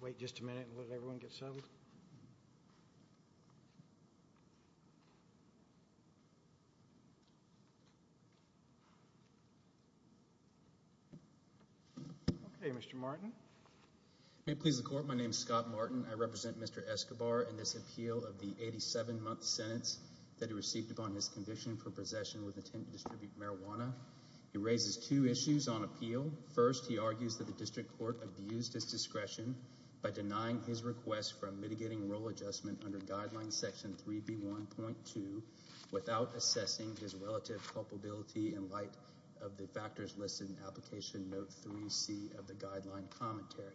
Wait just a minute and let everyone get settled. Okay, Mr. Martin. May it please the Court, my name is Scott Martin. I represent Mr. Escobar in this appeal of the 87-month sentence that he received upon his conviction for possession with intent to distribute marijuana. He raises two issues on appeal. First, he argues that the District Court abused his discretion by denying his request for a mitigating role adjustment under Guideline Section 3B1.2 without assessing his relative culpability in light of the factors listed in Application Note 3C of the Guideline Commentary.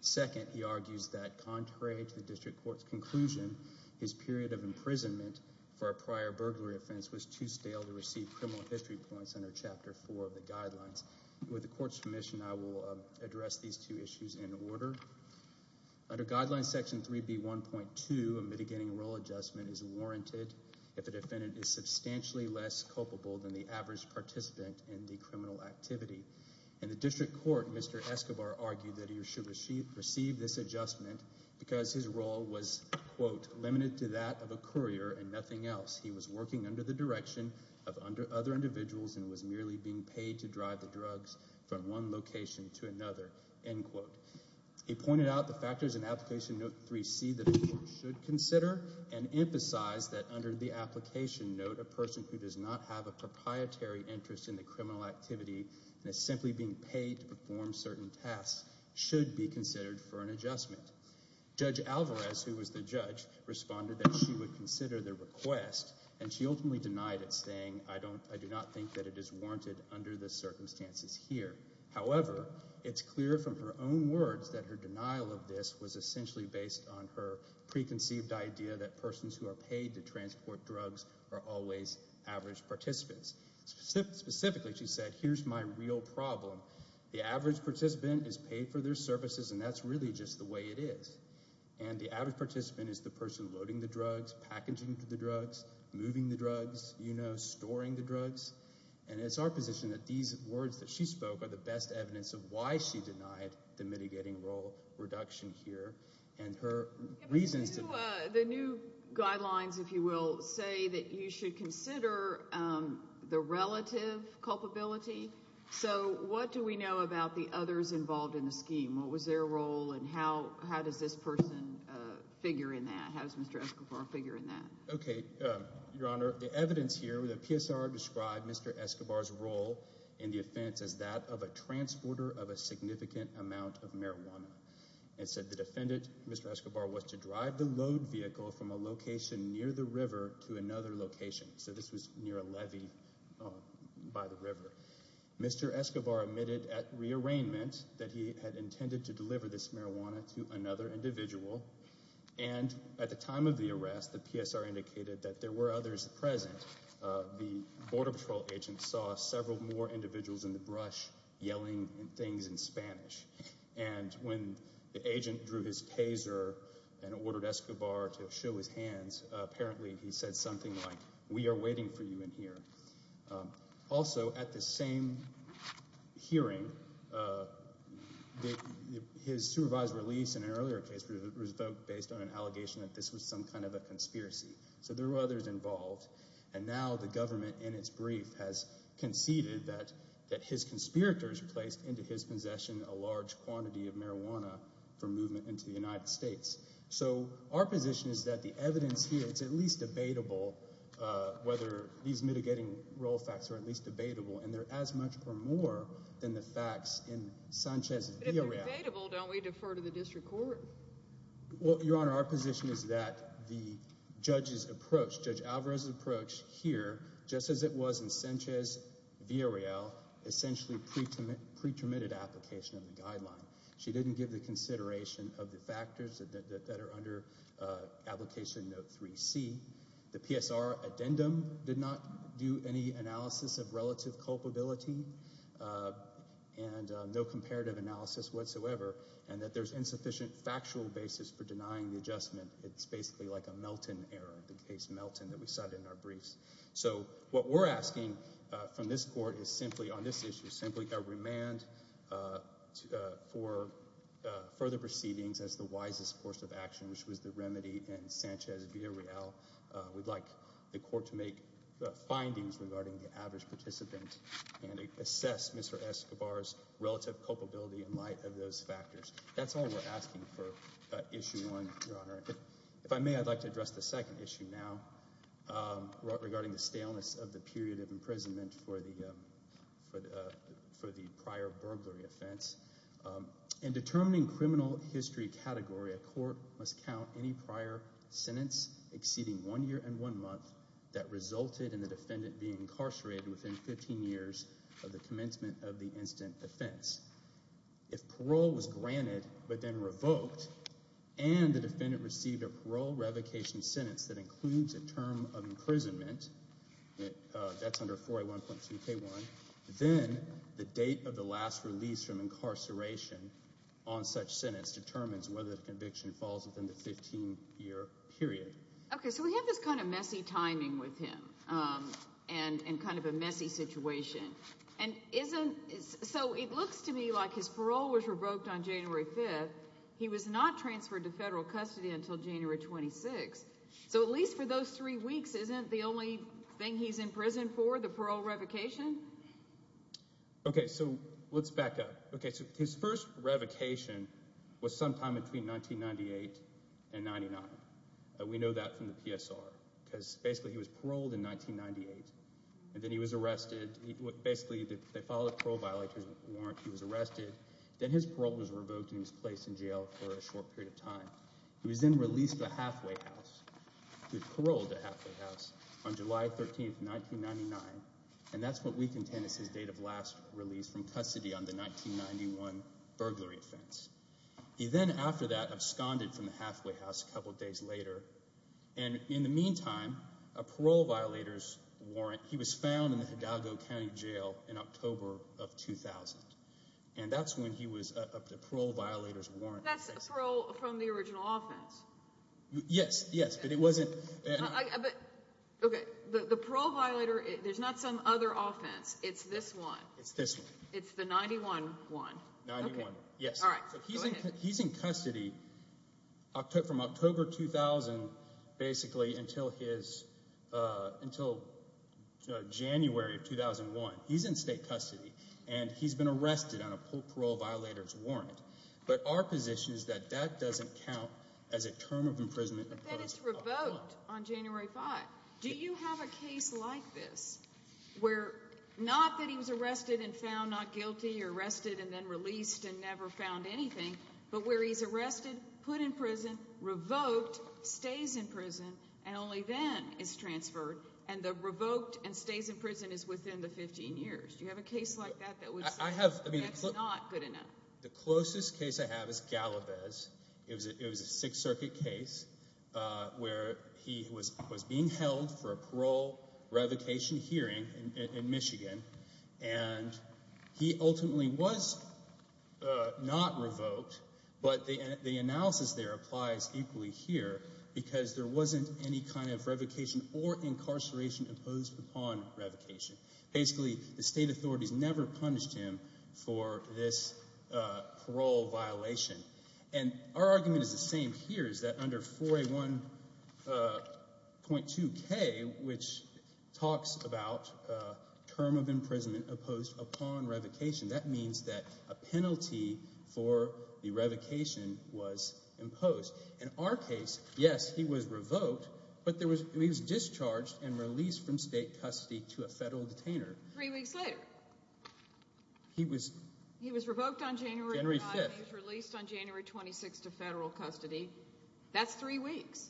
Second, he argues that contrary to the District Court's conclusion, his period of imprisonment for a prior burglary offense was too stale to receive criminal history points under Chapter 4 of the Guidelines. With the Court's permission, I will address these two issues in order. Under Guideline Section 3B1.2, a mitigating role adjustment is warranted if a defendant is substantially less culpable than the average participant in the criminal activity. In the District Court, Mr. Escobar argued that he should receive this adjustment because his role was, quote, limited to that of a courier and nothing else. He was working under the direction of other individuals and was merely being paid to drive the drugs from one location to another, end quote. He pointed out the factors in Application Note 3C that a court should consider and emphasized that under the application note, a person who does not have a proprietary interest in the criminal activity and is simply being paid to perform certain tasks should be considered for an adjustment. Judge Alvarez, who was the judge, responded that she would consider the request, and she ultimately denied it, saying, I do not think that it is warranted under the circumstances here. However, it's clear from her own words that her denial of this was essentially based on her preconceived idea that persons who are paid to transport drugs are always average participants. Specifically, she said, here's my real problem. The average participant is paid for their services, and that's really just the way it is. And the average participant is the person loading the drugs, packaging the drugs, moving the drugs, you know, storing the drugs. And it's our position that these words that she spoke are the best evidence of why she denied the mitigating role reduction here and her reasons to do it. The new guidelines, if you will, say that you should consider the relative culpability. So what do we know about the others involved in the scheme? What was their role and how does this person figure in that? How does Mr. Escobar figure in that? Okay, Your Honor, the evidence here, the PSR described Mr. Escobar's role in the offense as that of a transporter of a significant amount of marijuana. It said the defendant, Mr. Escobar, was to drive the load vehicle from a location near the river to another location. So this was near a levee by the river. Mr. Escobar admitted at rearrangement that he had intended to deliver this marijuana to another individual. And at the time of the arrest, the PSR indicated that there were others present. The Border Patrol agent saw several more individuals in the brush yelling things in Spanish. And when the agent drew his taser and ordered Escobar to show his hands, apparently he said something like, we are waiting for you in here. Also, at the same hearing, his supervised release in an earlier case was based on an allegation that this was some kind of a conspiracy. So there were others involved. And now the government, in its brief, has conceded that his conspirators placed into his possession a large quantity of marijuana for movement into the United States. So our position is that the evidence here, it's at least debatable whether these mitigating role facts are at least debatable. And they're as much or more than the facts in Sanchez-Villareal. But if they're debatable, don't we defer to the district court? Well, Your Honor, our position is that the judge's approach, Judge Alvarez's approach here, just as it was in Sanchez-Villareal, essentially pretermitted application of the guideline. She didn't give the consideration of the factors that are under Application Note 3C. The PSR addendum did not do any analysis of relative culpability and no comparative analysis whatsoever, and that there's insufficient factual basis for denying the adjustment. It's basically like a Melton error, the case Melton that we cited in our briefs. So what we're asking from this court is simply on this issue, simply a remand for further proceedings as the wisest course of action, which was the remedy in Sanchez-Villareal. We'd like the court to make findings regarding the average participant and assess Mr. Escobar's relative culpability in light of those factors. That's all we're asking for Issue 1, Your Honor. If I may, I'd like to address the second issue now regarding the staleness of the period of imprisonment for the prior burglary offense. In determining criminal history category, a court must count any prior sentence exceeding one year and one month that resulted in the defendant being incarcerated within 15 years of the commencement of the incident defense. If parole was granted but then revoked and the defendant received a parole revocation sentence that includes a term of imprisonment, that's under 4A1.2k1, then the date of the last release from incarceration on such sentence determines whether the conviction falls within the 15-year period. Okay, so we have this kind of messy timing with him and kind of a messy situation. So it looks to me like his parole was revoked on January 5th. He was not transferred to federal custody until January 26th. So at least for those three weeks, isn't the only thing he's in prison for the parole revocation? Okay, so let's back up. Okay, so his first revocation was sometime between 1998 and 1999. We know that from the PSR because basically he was paroled in 1998. And then he was arrested. Basically, they filed a parole violator's warrant. He was arrested. Then his parole was revoked and he was placed in jail for a short period of time. He was then released to Hathaway House. He was paroled to Hathaway House on July 13th, 1999, and that's what we contain as his date of last release from custody on the 1991 burglary offense. He then after that absconded from the Hathaway House a couple days later. And in the meantime, a parole violator's warrant. He was found in the Hidalgo County Jail in October of 2000. And that's when he was—a parole violator's warrant. That's a parole from the original offense. Yes, yes, but it wasn't— Okay, the parole violator, there's not some other offense. It's this one. It's this one. It's the 91 one. 91, yes. All right, go ahead. From October 2000 basically until his—until January of 2001. He's in state custody, and he's been arrested on a parole violator's warrant. But our position is that that doesn't count as a term of imprisonment. But then it's revoked on January 5th. Do you have a case like this where—not that he was arrested and found not guilty or arrested and then released and never found anything, but where he's arrested, put in prison, revoked, stays in prison, and only then is transferred, and the revoked and stays in prison is within the 15 years? Do you have a case like that that was—that's not good enough? The closest case I have is Gallavez. It was a Sixth Circuit case where he was being held for a parole revocation hearing in Michigan, and he ultimately was not revoked, but the analysis there applies equally here because there wasn't any kind of revocation or incarceration imposed upon revocation. Basically, the state authorities never punished him for this parole violation. And our argument is the same here, is that under 4A1.2K, which talks about term of imprisonment imposed upon revocation, that means that a penalty for the revocation was imposed. In our case, yes, he was revoked, but he was discharged and released from state custody to a federal detainer. Three weeks later, he was revoked on January 5th. He was released on January 26th to federal custody. That's three weeks.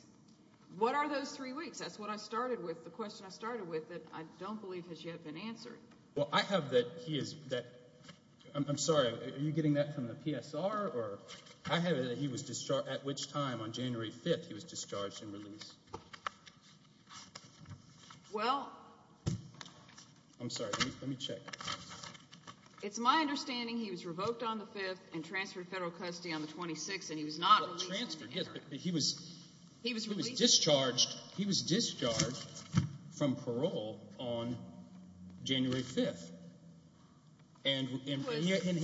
What are those three weeks? That's what I started with. The question I started with that I don't believe has yet been answered. Well, I have that he is—I'm sorry. Are you getting that from the PSR? Or I have it that he was discharged—at which time, on January 5th, he was discharged and released. Well— I'm sorry. Let me check. It's my understanding he was revoked on the 5th and transferred to federal custody on the 26th, and he was not released on January 5th. He was discharged from parole on January 5th, and he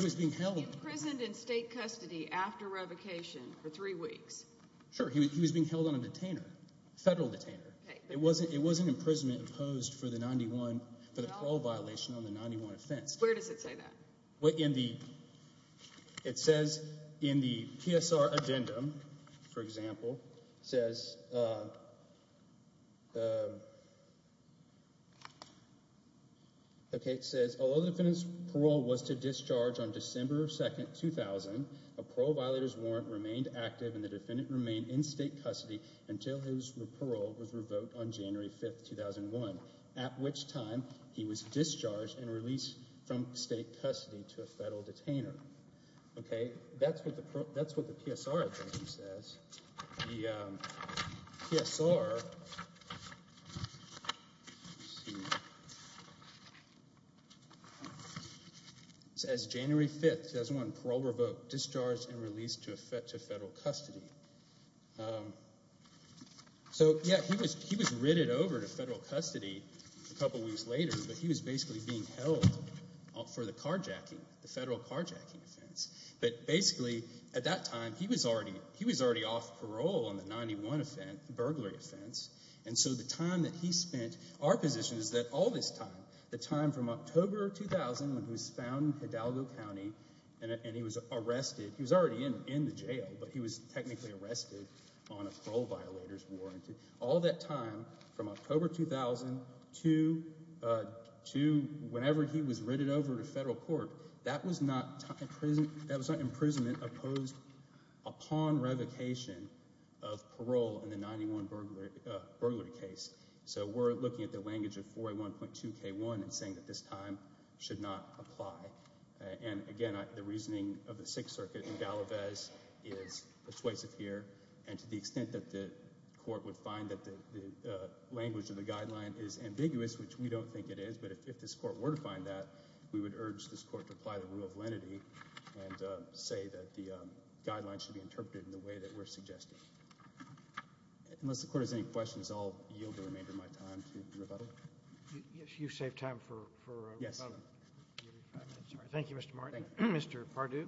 was being held— He was imprisoned in state custody after revocation for three weeks. Sure. He was being held on a detainer, a federal detainer. It was an imprisonment imposed for the parole violation on the 91 offense. Where does it say that? In the—it says in the PSR addendum, for example, it says— Okay, it says, although the defendant's parole was to discharge on December 2nd, 2000, a parole violator's warrant remained active and the defendant remained in state custody until his parole was revoked on January 5th, 2001, at which time he was discharged and released from state custody to a federal detainer. Okay, that's what the PSR addendum says. The PSR says January 5th, 2001, parole revoked, discharged, and released to federal custody. So, yeah, he was ritted over to federal custody a couple weeks later, but he was basically being held for the carjacking, the federal carjacking offense. But basically, at that time, he was already off parole on the 91 offense, the burglary offense, and so the time that he spent—our position is that all this time, the time from October 2000 when he was found in Hidalgo County and he was arrested— he was already in the jail, but he was technically arrested on a parole violator's warrant. All that time from October 2000 to whenever he was ritted over to federal court, that was not imprisonment opposed upon revocation of parole in the 91 burglary case. So we're looking at the language of 4A1.2K1 and saying that this time should not apply. And again, the reasoning of the Sixth Circuit in Galavez is persuasive here, and to the extent that the court would find that the language of the guideline is ambiguous, which we don't think it is, but if this court were to find that, we would urge this court to apply the rule of lenity and say that the guidelines should be interpreted in the way that we're suggesting. Unless the court has any questions, I'll yield the remainder of my time to rebuttal. Yes, you've saved time for rebuttal. Thank you, Mr. Martin. Mr. Pardue?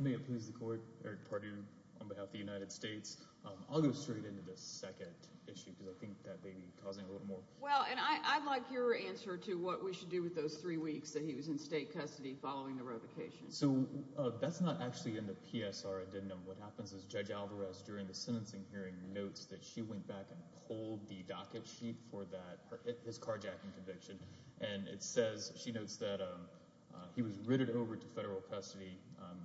May it please the court, Eric Pardue on behalf of the United States. I'll go straight into the second issue because I think that may be causing a little more. Well, and I'd like your answer to what we should do with those three weeks that he was in state custody following the revocation. So that's not actually in the PSR addendum. What happens is Judge Alvarez, during the sentencing hearing, notes that she went back and pulled the docket sheet for that, his carjacking conviction, and it says, she notes that he was ritted over to federal custody on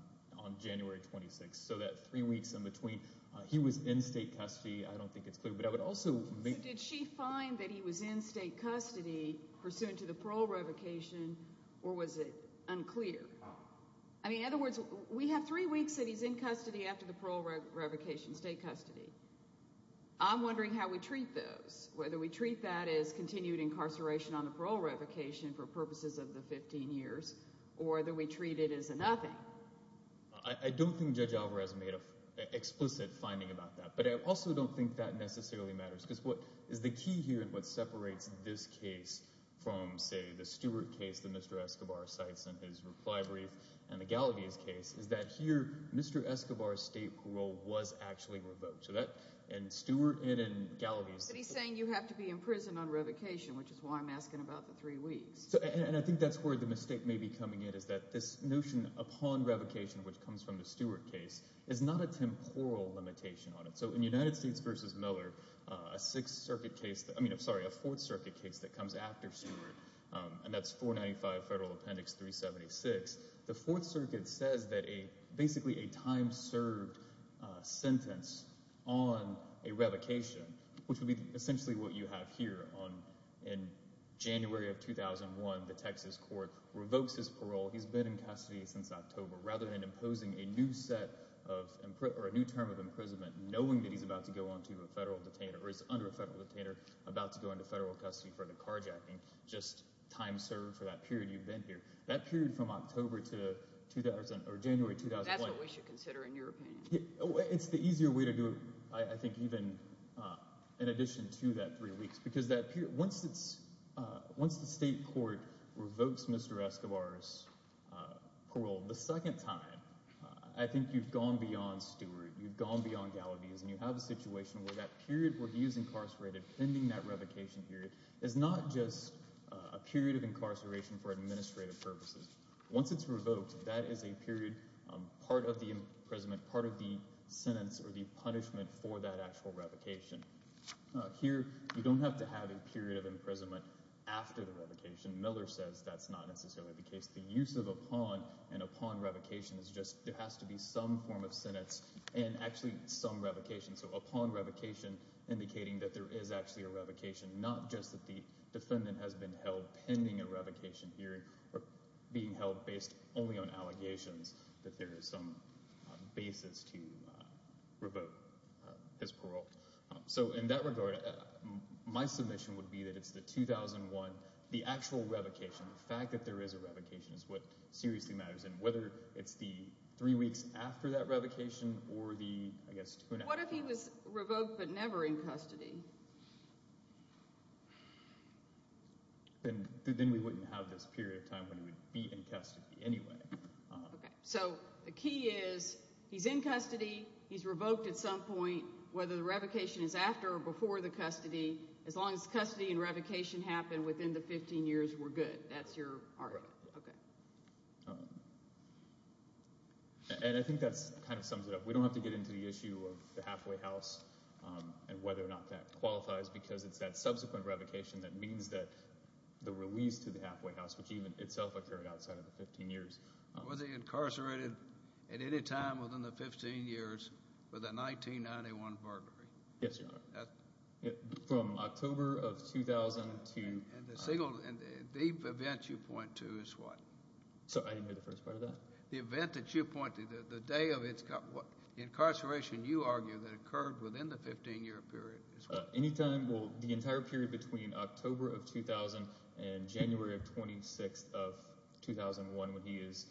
January 26th. So that three weeks in between, he was in state custody. I don't think it's clear, but I would also make... Did she find that he was in state custody pursuant to the parole revocation, or was it unclear? I mean, in other words, we have three weeks that he's in custody after the parole revocation, state custody. I'm wondering how we treat those, whether we treat that as continued incarceration on the parole revocation for purposes of the 15 years or that we treat it as a nothing. I don't think Judge Alvarez made an explicit finding about that, but I also don't think that necessarily matters because what is the key here and what separates this case from, say, the Stewart case that Mr. Escobar cites in his reply brief and the Galavis case is that here Mr. Escobar's state parole was actually revoked. And Stewart and in Galavis... But he's saying you have to be in prison on revocation, which is why I'm asking about the three weeks. And I think that's where the mistake may be coming in, is that this notion upon revocation, which comes from the Stewart case, is not a temporal limitation on it. So in United States v. Miller, a Fourth Circuit case that comes after Stewart, and that's 495 Federal Appendix 376, the Fourth Circuit says that basically a time-served sentence on a revocation, which would be essentially what you have here in January of 2001, the Texas court revokes his parole. He's been in custody since October. Rather than imposing a new term of imprisonment, knowing that he's about to go on to a federal detainer or is under a federal detainer about to go into federal custody for the carjacking, just time served for that period you've been here. That period from October to January 2001... That's what we should consider in your opinion. It's the easier way to do it, I think, even in addition to that three weeks. Because once the state court revokes Mr. Escobar's parole the second time, I think you've gone beyond Stewart, you've gone beyond Galavis, and you have a situation where that period where he is incarcerated, pending that revocation period, is not just a period of incarceration for administrative purposes. Once it's revoked, that is a period, part of the imprisonment, part of the sentence or the punishment for that actual revocation. Here you don't have to have a period of imprisonment after the revocation. Miller says that's not necessarily the case. The use of upon and upon revocation is just there has to be some form of sentence and actually some revocation. So upon revocation indicating that there is actually a revocation, not just that the defendant has been held pending a revocation hearing or being held based only on allegations that there is some basis to revoke his parole. So in that regard, my submission would be that it's the 2001, the actual revocation. The fact that there is a revocation is what seriously matters, and whether it's the three weeks after that revocation or the, I guess, two and a half. What if he was revoked but never in custody? Then we wouldn't have this period of time when he would be in custody anyway. So the key is he's in custody, he's revoked at some point, whether the revocation is after or before the custody, as long as custody and revocation happen within the 15 years, we're good. That's your argument. I think that kind of sums it up. We don't have to get into the issue of the halfway house and whether or not that qualifies because it's that subsequent revocation that means that the release to the halfway house, which even itself occurred outside of the 15 years. Was he incarcerated at any time within the 15 years with a 1991 burglary? Yes, Your Honor. From October of 2002. And the event you point to is what? I didn't hear the first part of that. The event that you point to, the day of his incarceration, you argue that occurred within the 15-year period. The entire period between October of 2000 and January of 2006 of 2001 when he is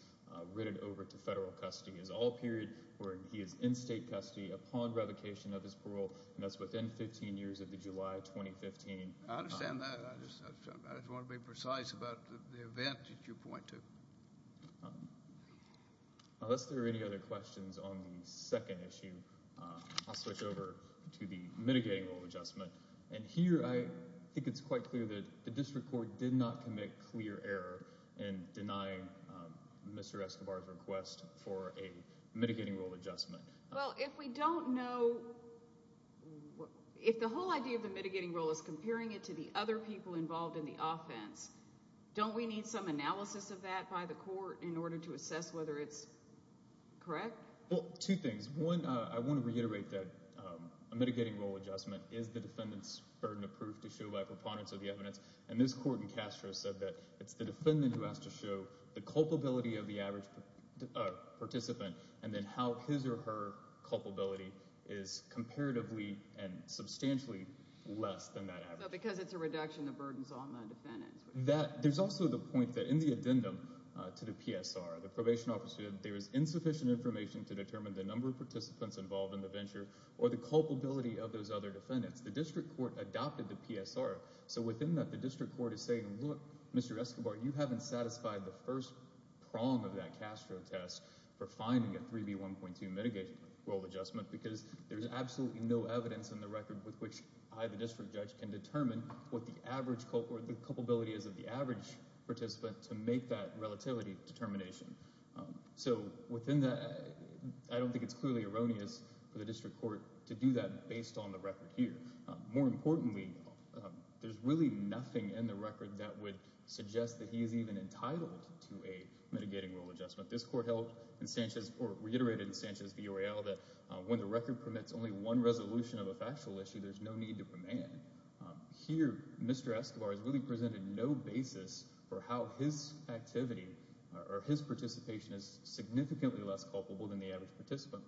written over to federal custody is all period where he is in state custody upon revocation of his parole, and that's within 15 years of the July of 2015. I understand that. I just want to be precise about the event that you point to. Unless there are any other questions on the second issue, I'll switch over to the mitigating rule adjustment. And here I think it's quite clear that the district court did not commit clear error in denying Mr. Escobar's request for a mitigating rule adjustment. Well, if we don't know, if the whole idea of the mitigating rule is comparing it to the other people involved in the offense, don't we need some analysis of that by the court in order to assess whether it's correct? Well, two things. One, I want to reiterate that a mitigating rule adjustment is the defendant's burden of proof to show by preponderance of the evidence, and this court in Castro said that it's the defendant who has to show the culpability of the average participant and then how his or her culpability is comparatively and substantially less than that average. Because it's a reduction of burdens on the defendant. There's also the point that in the addendum to the PSR, the probation officer said there is insufficient information to determine the number of participants involved in the venture or the culpability of those other defendants. The district court adopted the PSR, so within that the district court is saying, look, Mr. Escobar, you haven't satisfied the first prong of that Castro test for finding a 3B1.2 mitigating rule adjustment because there's absolutely no evidence in the record with which I, the district judge, can determine what the average culpability is of the average participant to make that relativity determination. So within that, I don't think it's clearly erroneous for the district court to do that based on the record here. More importantly, there's really nothing in the record that would suggest that he is even entitled to a mitigating rule adjustment. This court reiterated in Sanchez v. Orell that when the record permits only one resolution of a factual issue, there's no need to demand. Here, Mr. Escobar has really presented no basis for how his activity or his participation is significantly less culpable than the average participant.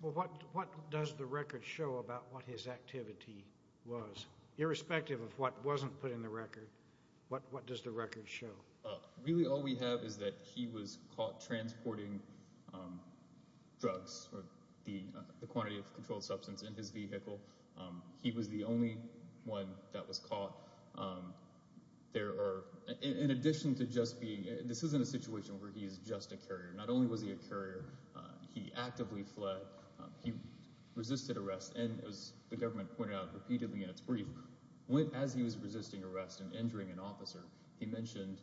Well, what does the record show about what his activity was? Irrespective of what wasn't put in the record, what does the record show? Really all we have is that he was caught transporting drugs or the quantity of controlled substance in his vehicle. He was the only one that was caught. There are, in addition to just being, this isn't a situation where he is just a carrier. Not only was he a carrier, he actively fled, he resisted arrest, and as the government pointed out repeatedly in its brief, as he was resisting arrest and injuring an officer, he mentioned,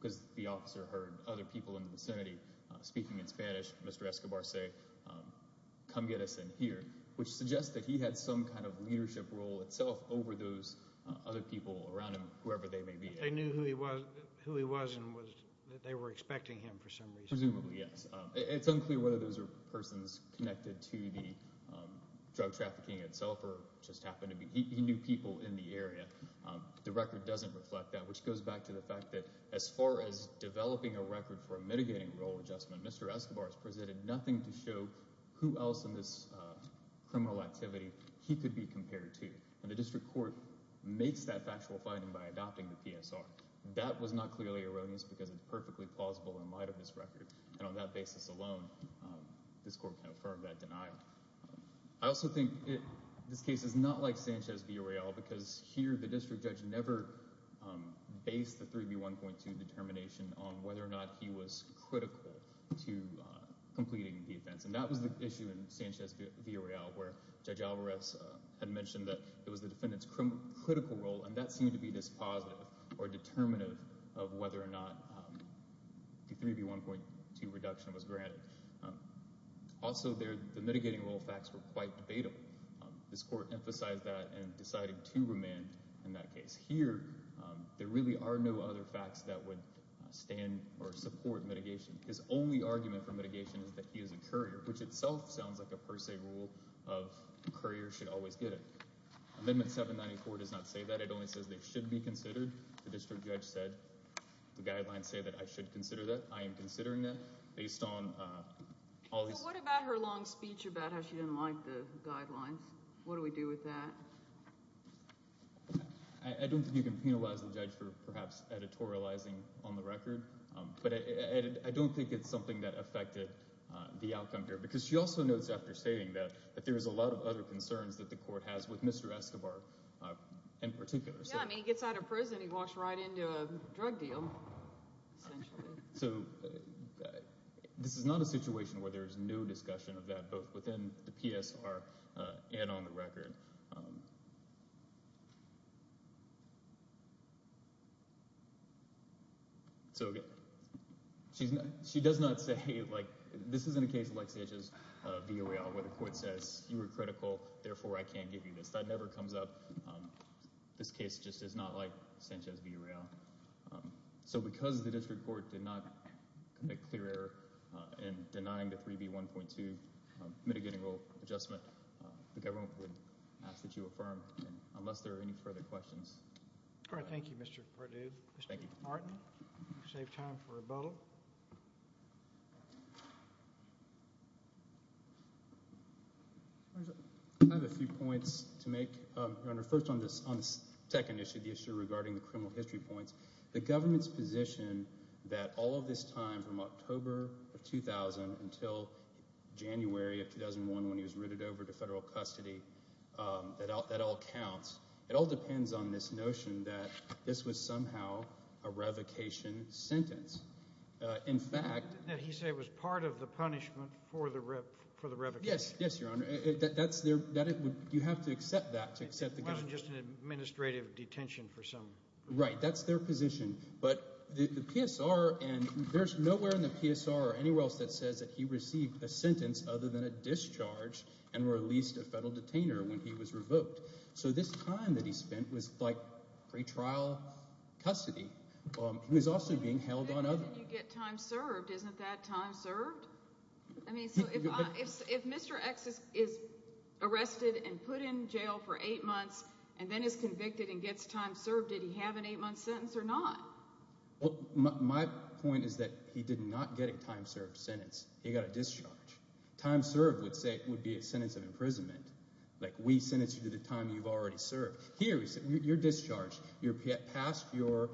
because the officer heard other people in the vicinity speaking in Spanish, Mr. Escobar say, come get us in here, which suggests that he had some kind of leadership role itself over those other people around him, whoever they may be. They knew who he was and they were expecting him for some reason. Presumably, yes. It's unclear whether those are persons connected to the drug trafficking itself or just happened to be. He knew people in the area. The record doesn't reflect that, which goes back to the fact that as far as developing a record for a mitigating role adjustment, Mr. Escobar has presented nothing to show who else in this criminal activity he could be compared to. The district court makes that factual finding by adopting the PSR. That was not clearly erroneous because it's perfectly plausible in light of this record. On that basis alone, this court confirmed that denial. I also think this case is not like Sanchez v. Orell because here the district judge never based the 3B1.2 determination on whether or not he was critical to completing the offense. That was the issue in Sanchez v. Orell where Judge Alvarez had mentioned that it was the defendant's critical role, and that seemed to be dispositive or determinative of whether or not the 3B1.2 reduction was granted. Also, the mitigating role facts were quite debatable. This court emphasized that and decided to remand in that case. Here there really are no other facts that would stand or support mitigation. Which itself sounds like a per se rule of the courier should always get it. Amendment 794 does not say that. It only says they should be considered. The district judge said the guidelines say that I should consider that. I am considering that based on all these. What about her long speech about how she didn't like the guidelines? What do we do with that? I don't think you can penalize the judge for perhaps editorializing on the record, but I don't think it's something that affected the outcome here. She also notes after saying that that there is a lot of other concerns that the court has with Mr. Escobar in particular. He gets out of prison and he walks right into a drug deal, essentially. This is not a situation where there is no discussion of that, both within the PSR and on the record. She does not say this isn't a case like Sanchez v. Arreola where the court says you were critical, therefore I can't give you this. That never comes up. This case just is not like Sanchez v. Arreola. Because the district court did not make clear error in denying the 3B1.2 mitigating rule adjustment, the government would not be able to do that. I ask that you affirm unless there are any further questions. All right. Thank you, Mr. Perdue. Mr. Martin, you saved time for rebuttal. I have a few points to make, Your Honor. First on this second issue, the issue regarding the criminal history points, the government's position that all of this time from October of 2000 until January of 2001 when he was routed over to federal custody, that all counts. It all depends on this notion that this was somehow a revocation sentence. In fact— He said it was part of the punishment for the revocation. Yes, Your Honor. You have to accept that to accept the— Just an administrative detention for some reason. Right. That's their position. But the PSR, and there's nowhere in the PSR or anywhere else that says that he received a sentence other than a discharge and released a federal detainer when he was revoked. So this time that he spent was like pretrial custody. He was also being held on other— You get time served. Isn't that time served? I mean, so if Mr. X is arrested and put in jail for eight months and then is convicted and gets time served, did he have an eight-month sentence or not? My point is that he did not get a time served sentence. He got a discharge. Time served would be a sentence of imprisonment, like we sentenced you to the time you've already served. Here, you're discharged. You're past your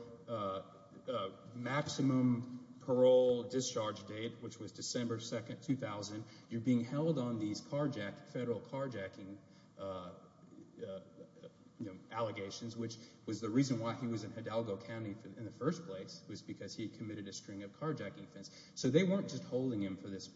maximum parole discharge date, which was December 2, 2000. You're being held on these federal carjacking allegations, which was the reason why he was in Hidalgo County in the first place. It was because he had committed a string of carjacking offenses. So they weren't just holding him for this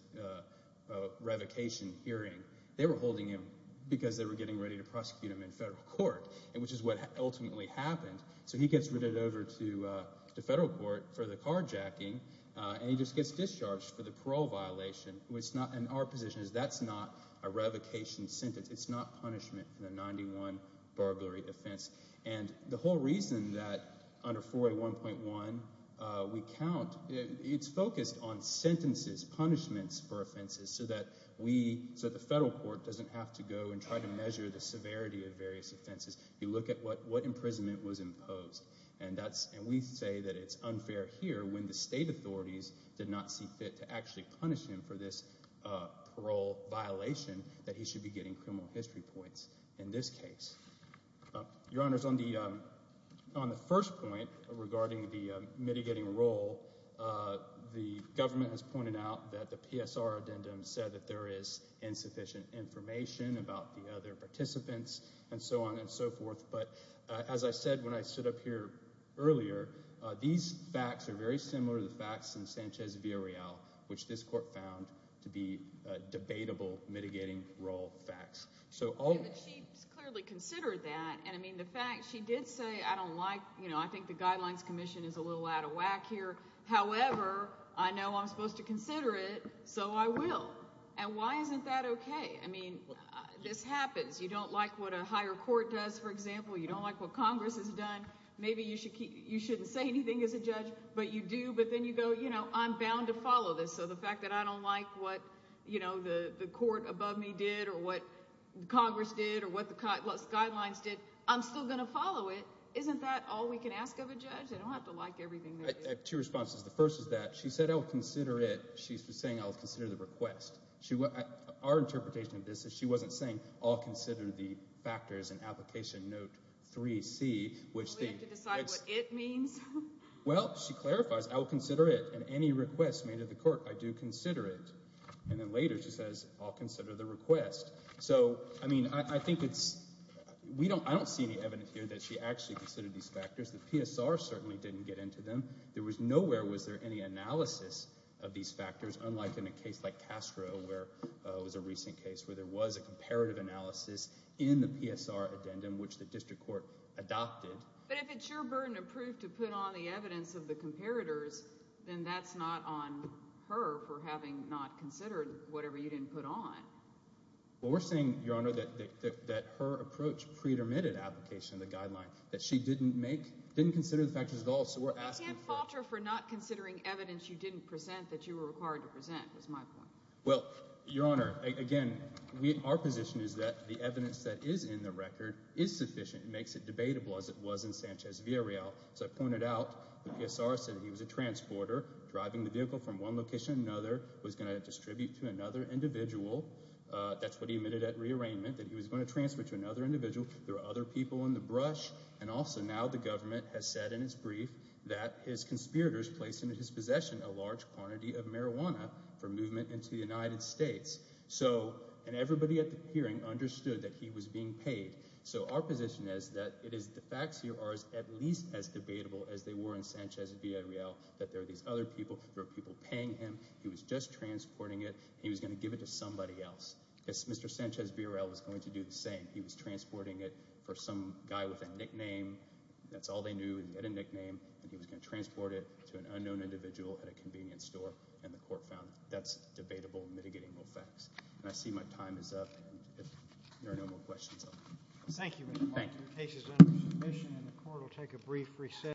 revocation hearing. They were holding him because they were getting ready to prosecute him in federal court, which is what ultimately happened. So he gets ridded over to federal court for the carjacking, and he just gets discharged for the parole violation. And our position is that's not a revocation sentence. It's not punishment for the 91 burglary offense. And the whole reason that under 4A1.1 we count, it's focused on sentences, punishments for offenses, so that the federal court doesn't have to go and try to measure the severity of various offenses. You look at what imprisonment was imposed, and we say that it's unfair here when the state authorities did not see fit to actually punish him for this parole violation, that he should be getting criminal history points in this case. Your Honors, on the first point regarding the mitigating role, the government has pointed out that the PSR addendum said that there is insufficient information about the other participants and so on and so forth. But as I said when I stood up here earlier, these facts are very similar to the facts in Sanchez v. Arreal, which this court found to be debatable mitigating role facts. She clearly considered that. And, I mean, the fact she did say I don't like, you know, I think the Guidelines Commission is a little out of whack here. However, I know I'm supposed to consider it, so I will. And why isn't that okay? I mean, this happens. You don't like what a higher court does, for example. You don't like what Congress has done. Maybe you shouldn't say anything as a judge, but you do. But then you go, you know, I'm bound to follow this. So the fact that I don't like what, you know, the court above me did or what Congress did or what the guidelines did, I'm still going to follow it. Isn't that all we can ask of a judge? I don't have to like everything they did. I have two responses. The first is that she said I will consider it. She was saying I will consider the request. Our interpretation of this is she wasn't saying I'll consider the factors in Application Note 3C. Do we have to decide what it means? Well, she clarifies, I will consider it, and any request made of the court, I do consider it. And then later she says I'll consider the request. So, I mean, I think it's – I don't see any evidence here that she actually considered these factors. The PSR certainly didn't get into them. Nowhere was there any analysis of these factors, unlike in a case like Castro where it was a recent case where there was a comparative analysis in the PSR addendum, which the district court adopted. But if it's your burden of proof to put on the evidence of the comparators, then that's not on her for having not considered whatever you didn't put on. Well, we're saying, Your Honor, that her approach pretermitted application of the guideline, that she didn't make – didn't consider the factors at all. So we're asking for – I can't fault her for not considering evidence you didn't present that you were required to present, is my point. Well, Your Honor, again, our position is that the evidence that is in the record is sufficient. It makes it debatable, as it was in Sanchez-Villareal. As I pointed out, the PSR said he was a transporter driving the vehicle from one location to another, was going to distribute to another individual. That's what he admitted at rearrangement, that he was going to transfer to another individual. There were other people in the brush. And also now the government has said in its brief that his conspirators placed into his possession a large quantity of marijuana for movement into the United States. So – and everybody at the hearing understood that he was being paid. So our position is that it is – the facts here are at least as debatable as they were in Sanchez-Villareal, that there are these other people. There are people paying him. He was just transporting it. He was going to give it to somebody else. Mr. Sanchez-Villareal was going to do the same. He was transporting it for some guy with a nickname. That's all they knew. He had a nickname, and he was going to transport it to an unknown individual at a convenience store, and the court found that's debatable, mitigating all facts. And I see my time is up, and if there are no more questions, I'll – Thank you, Mr. Martin. Thank you. The case is under submission, and the court will take a brief recess.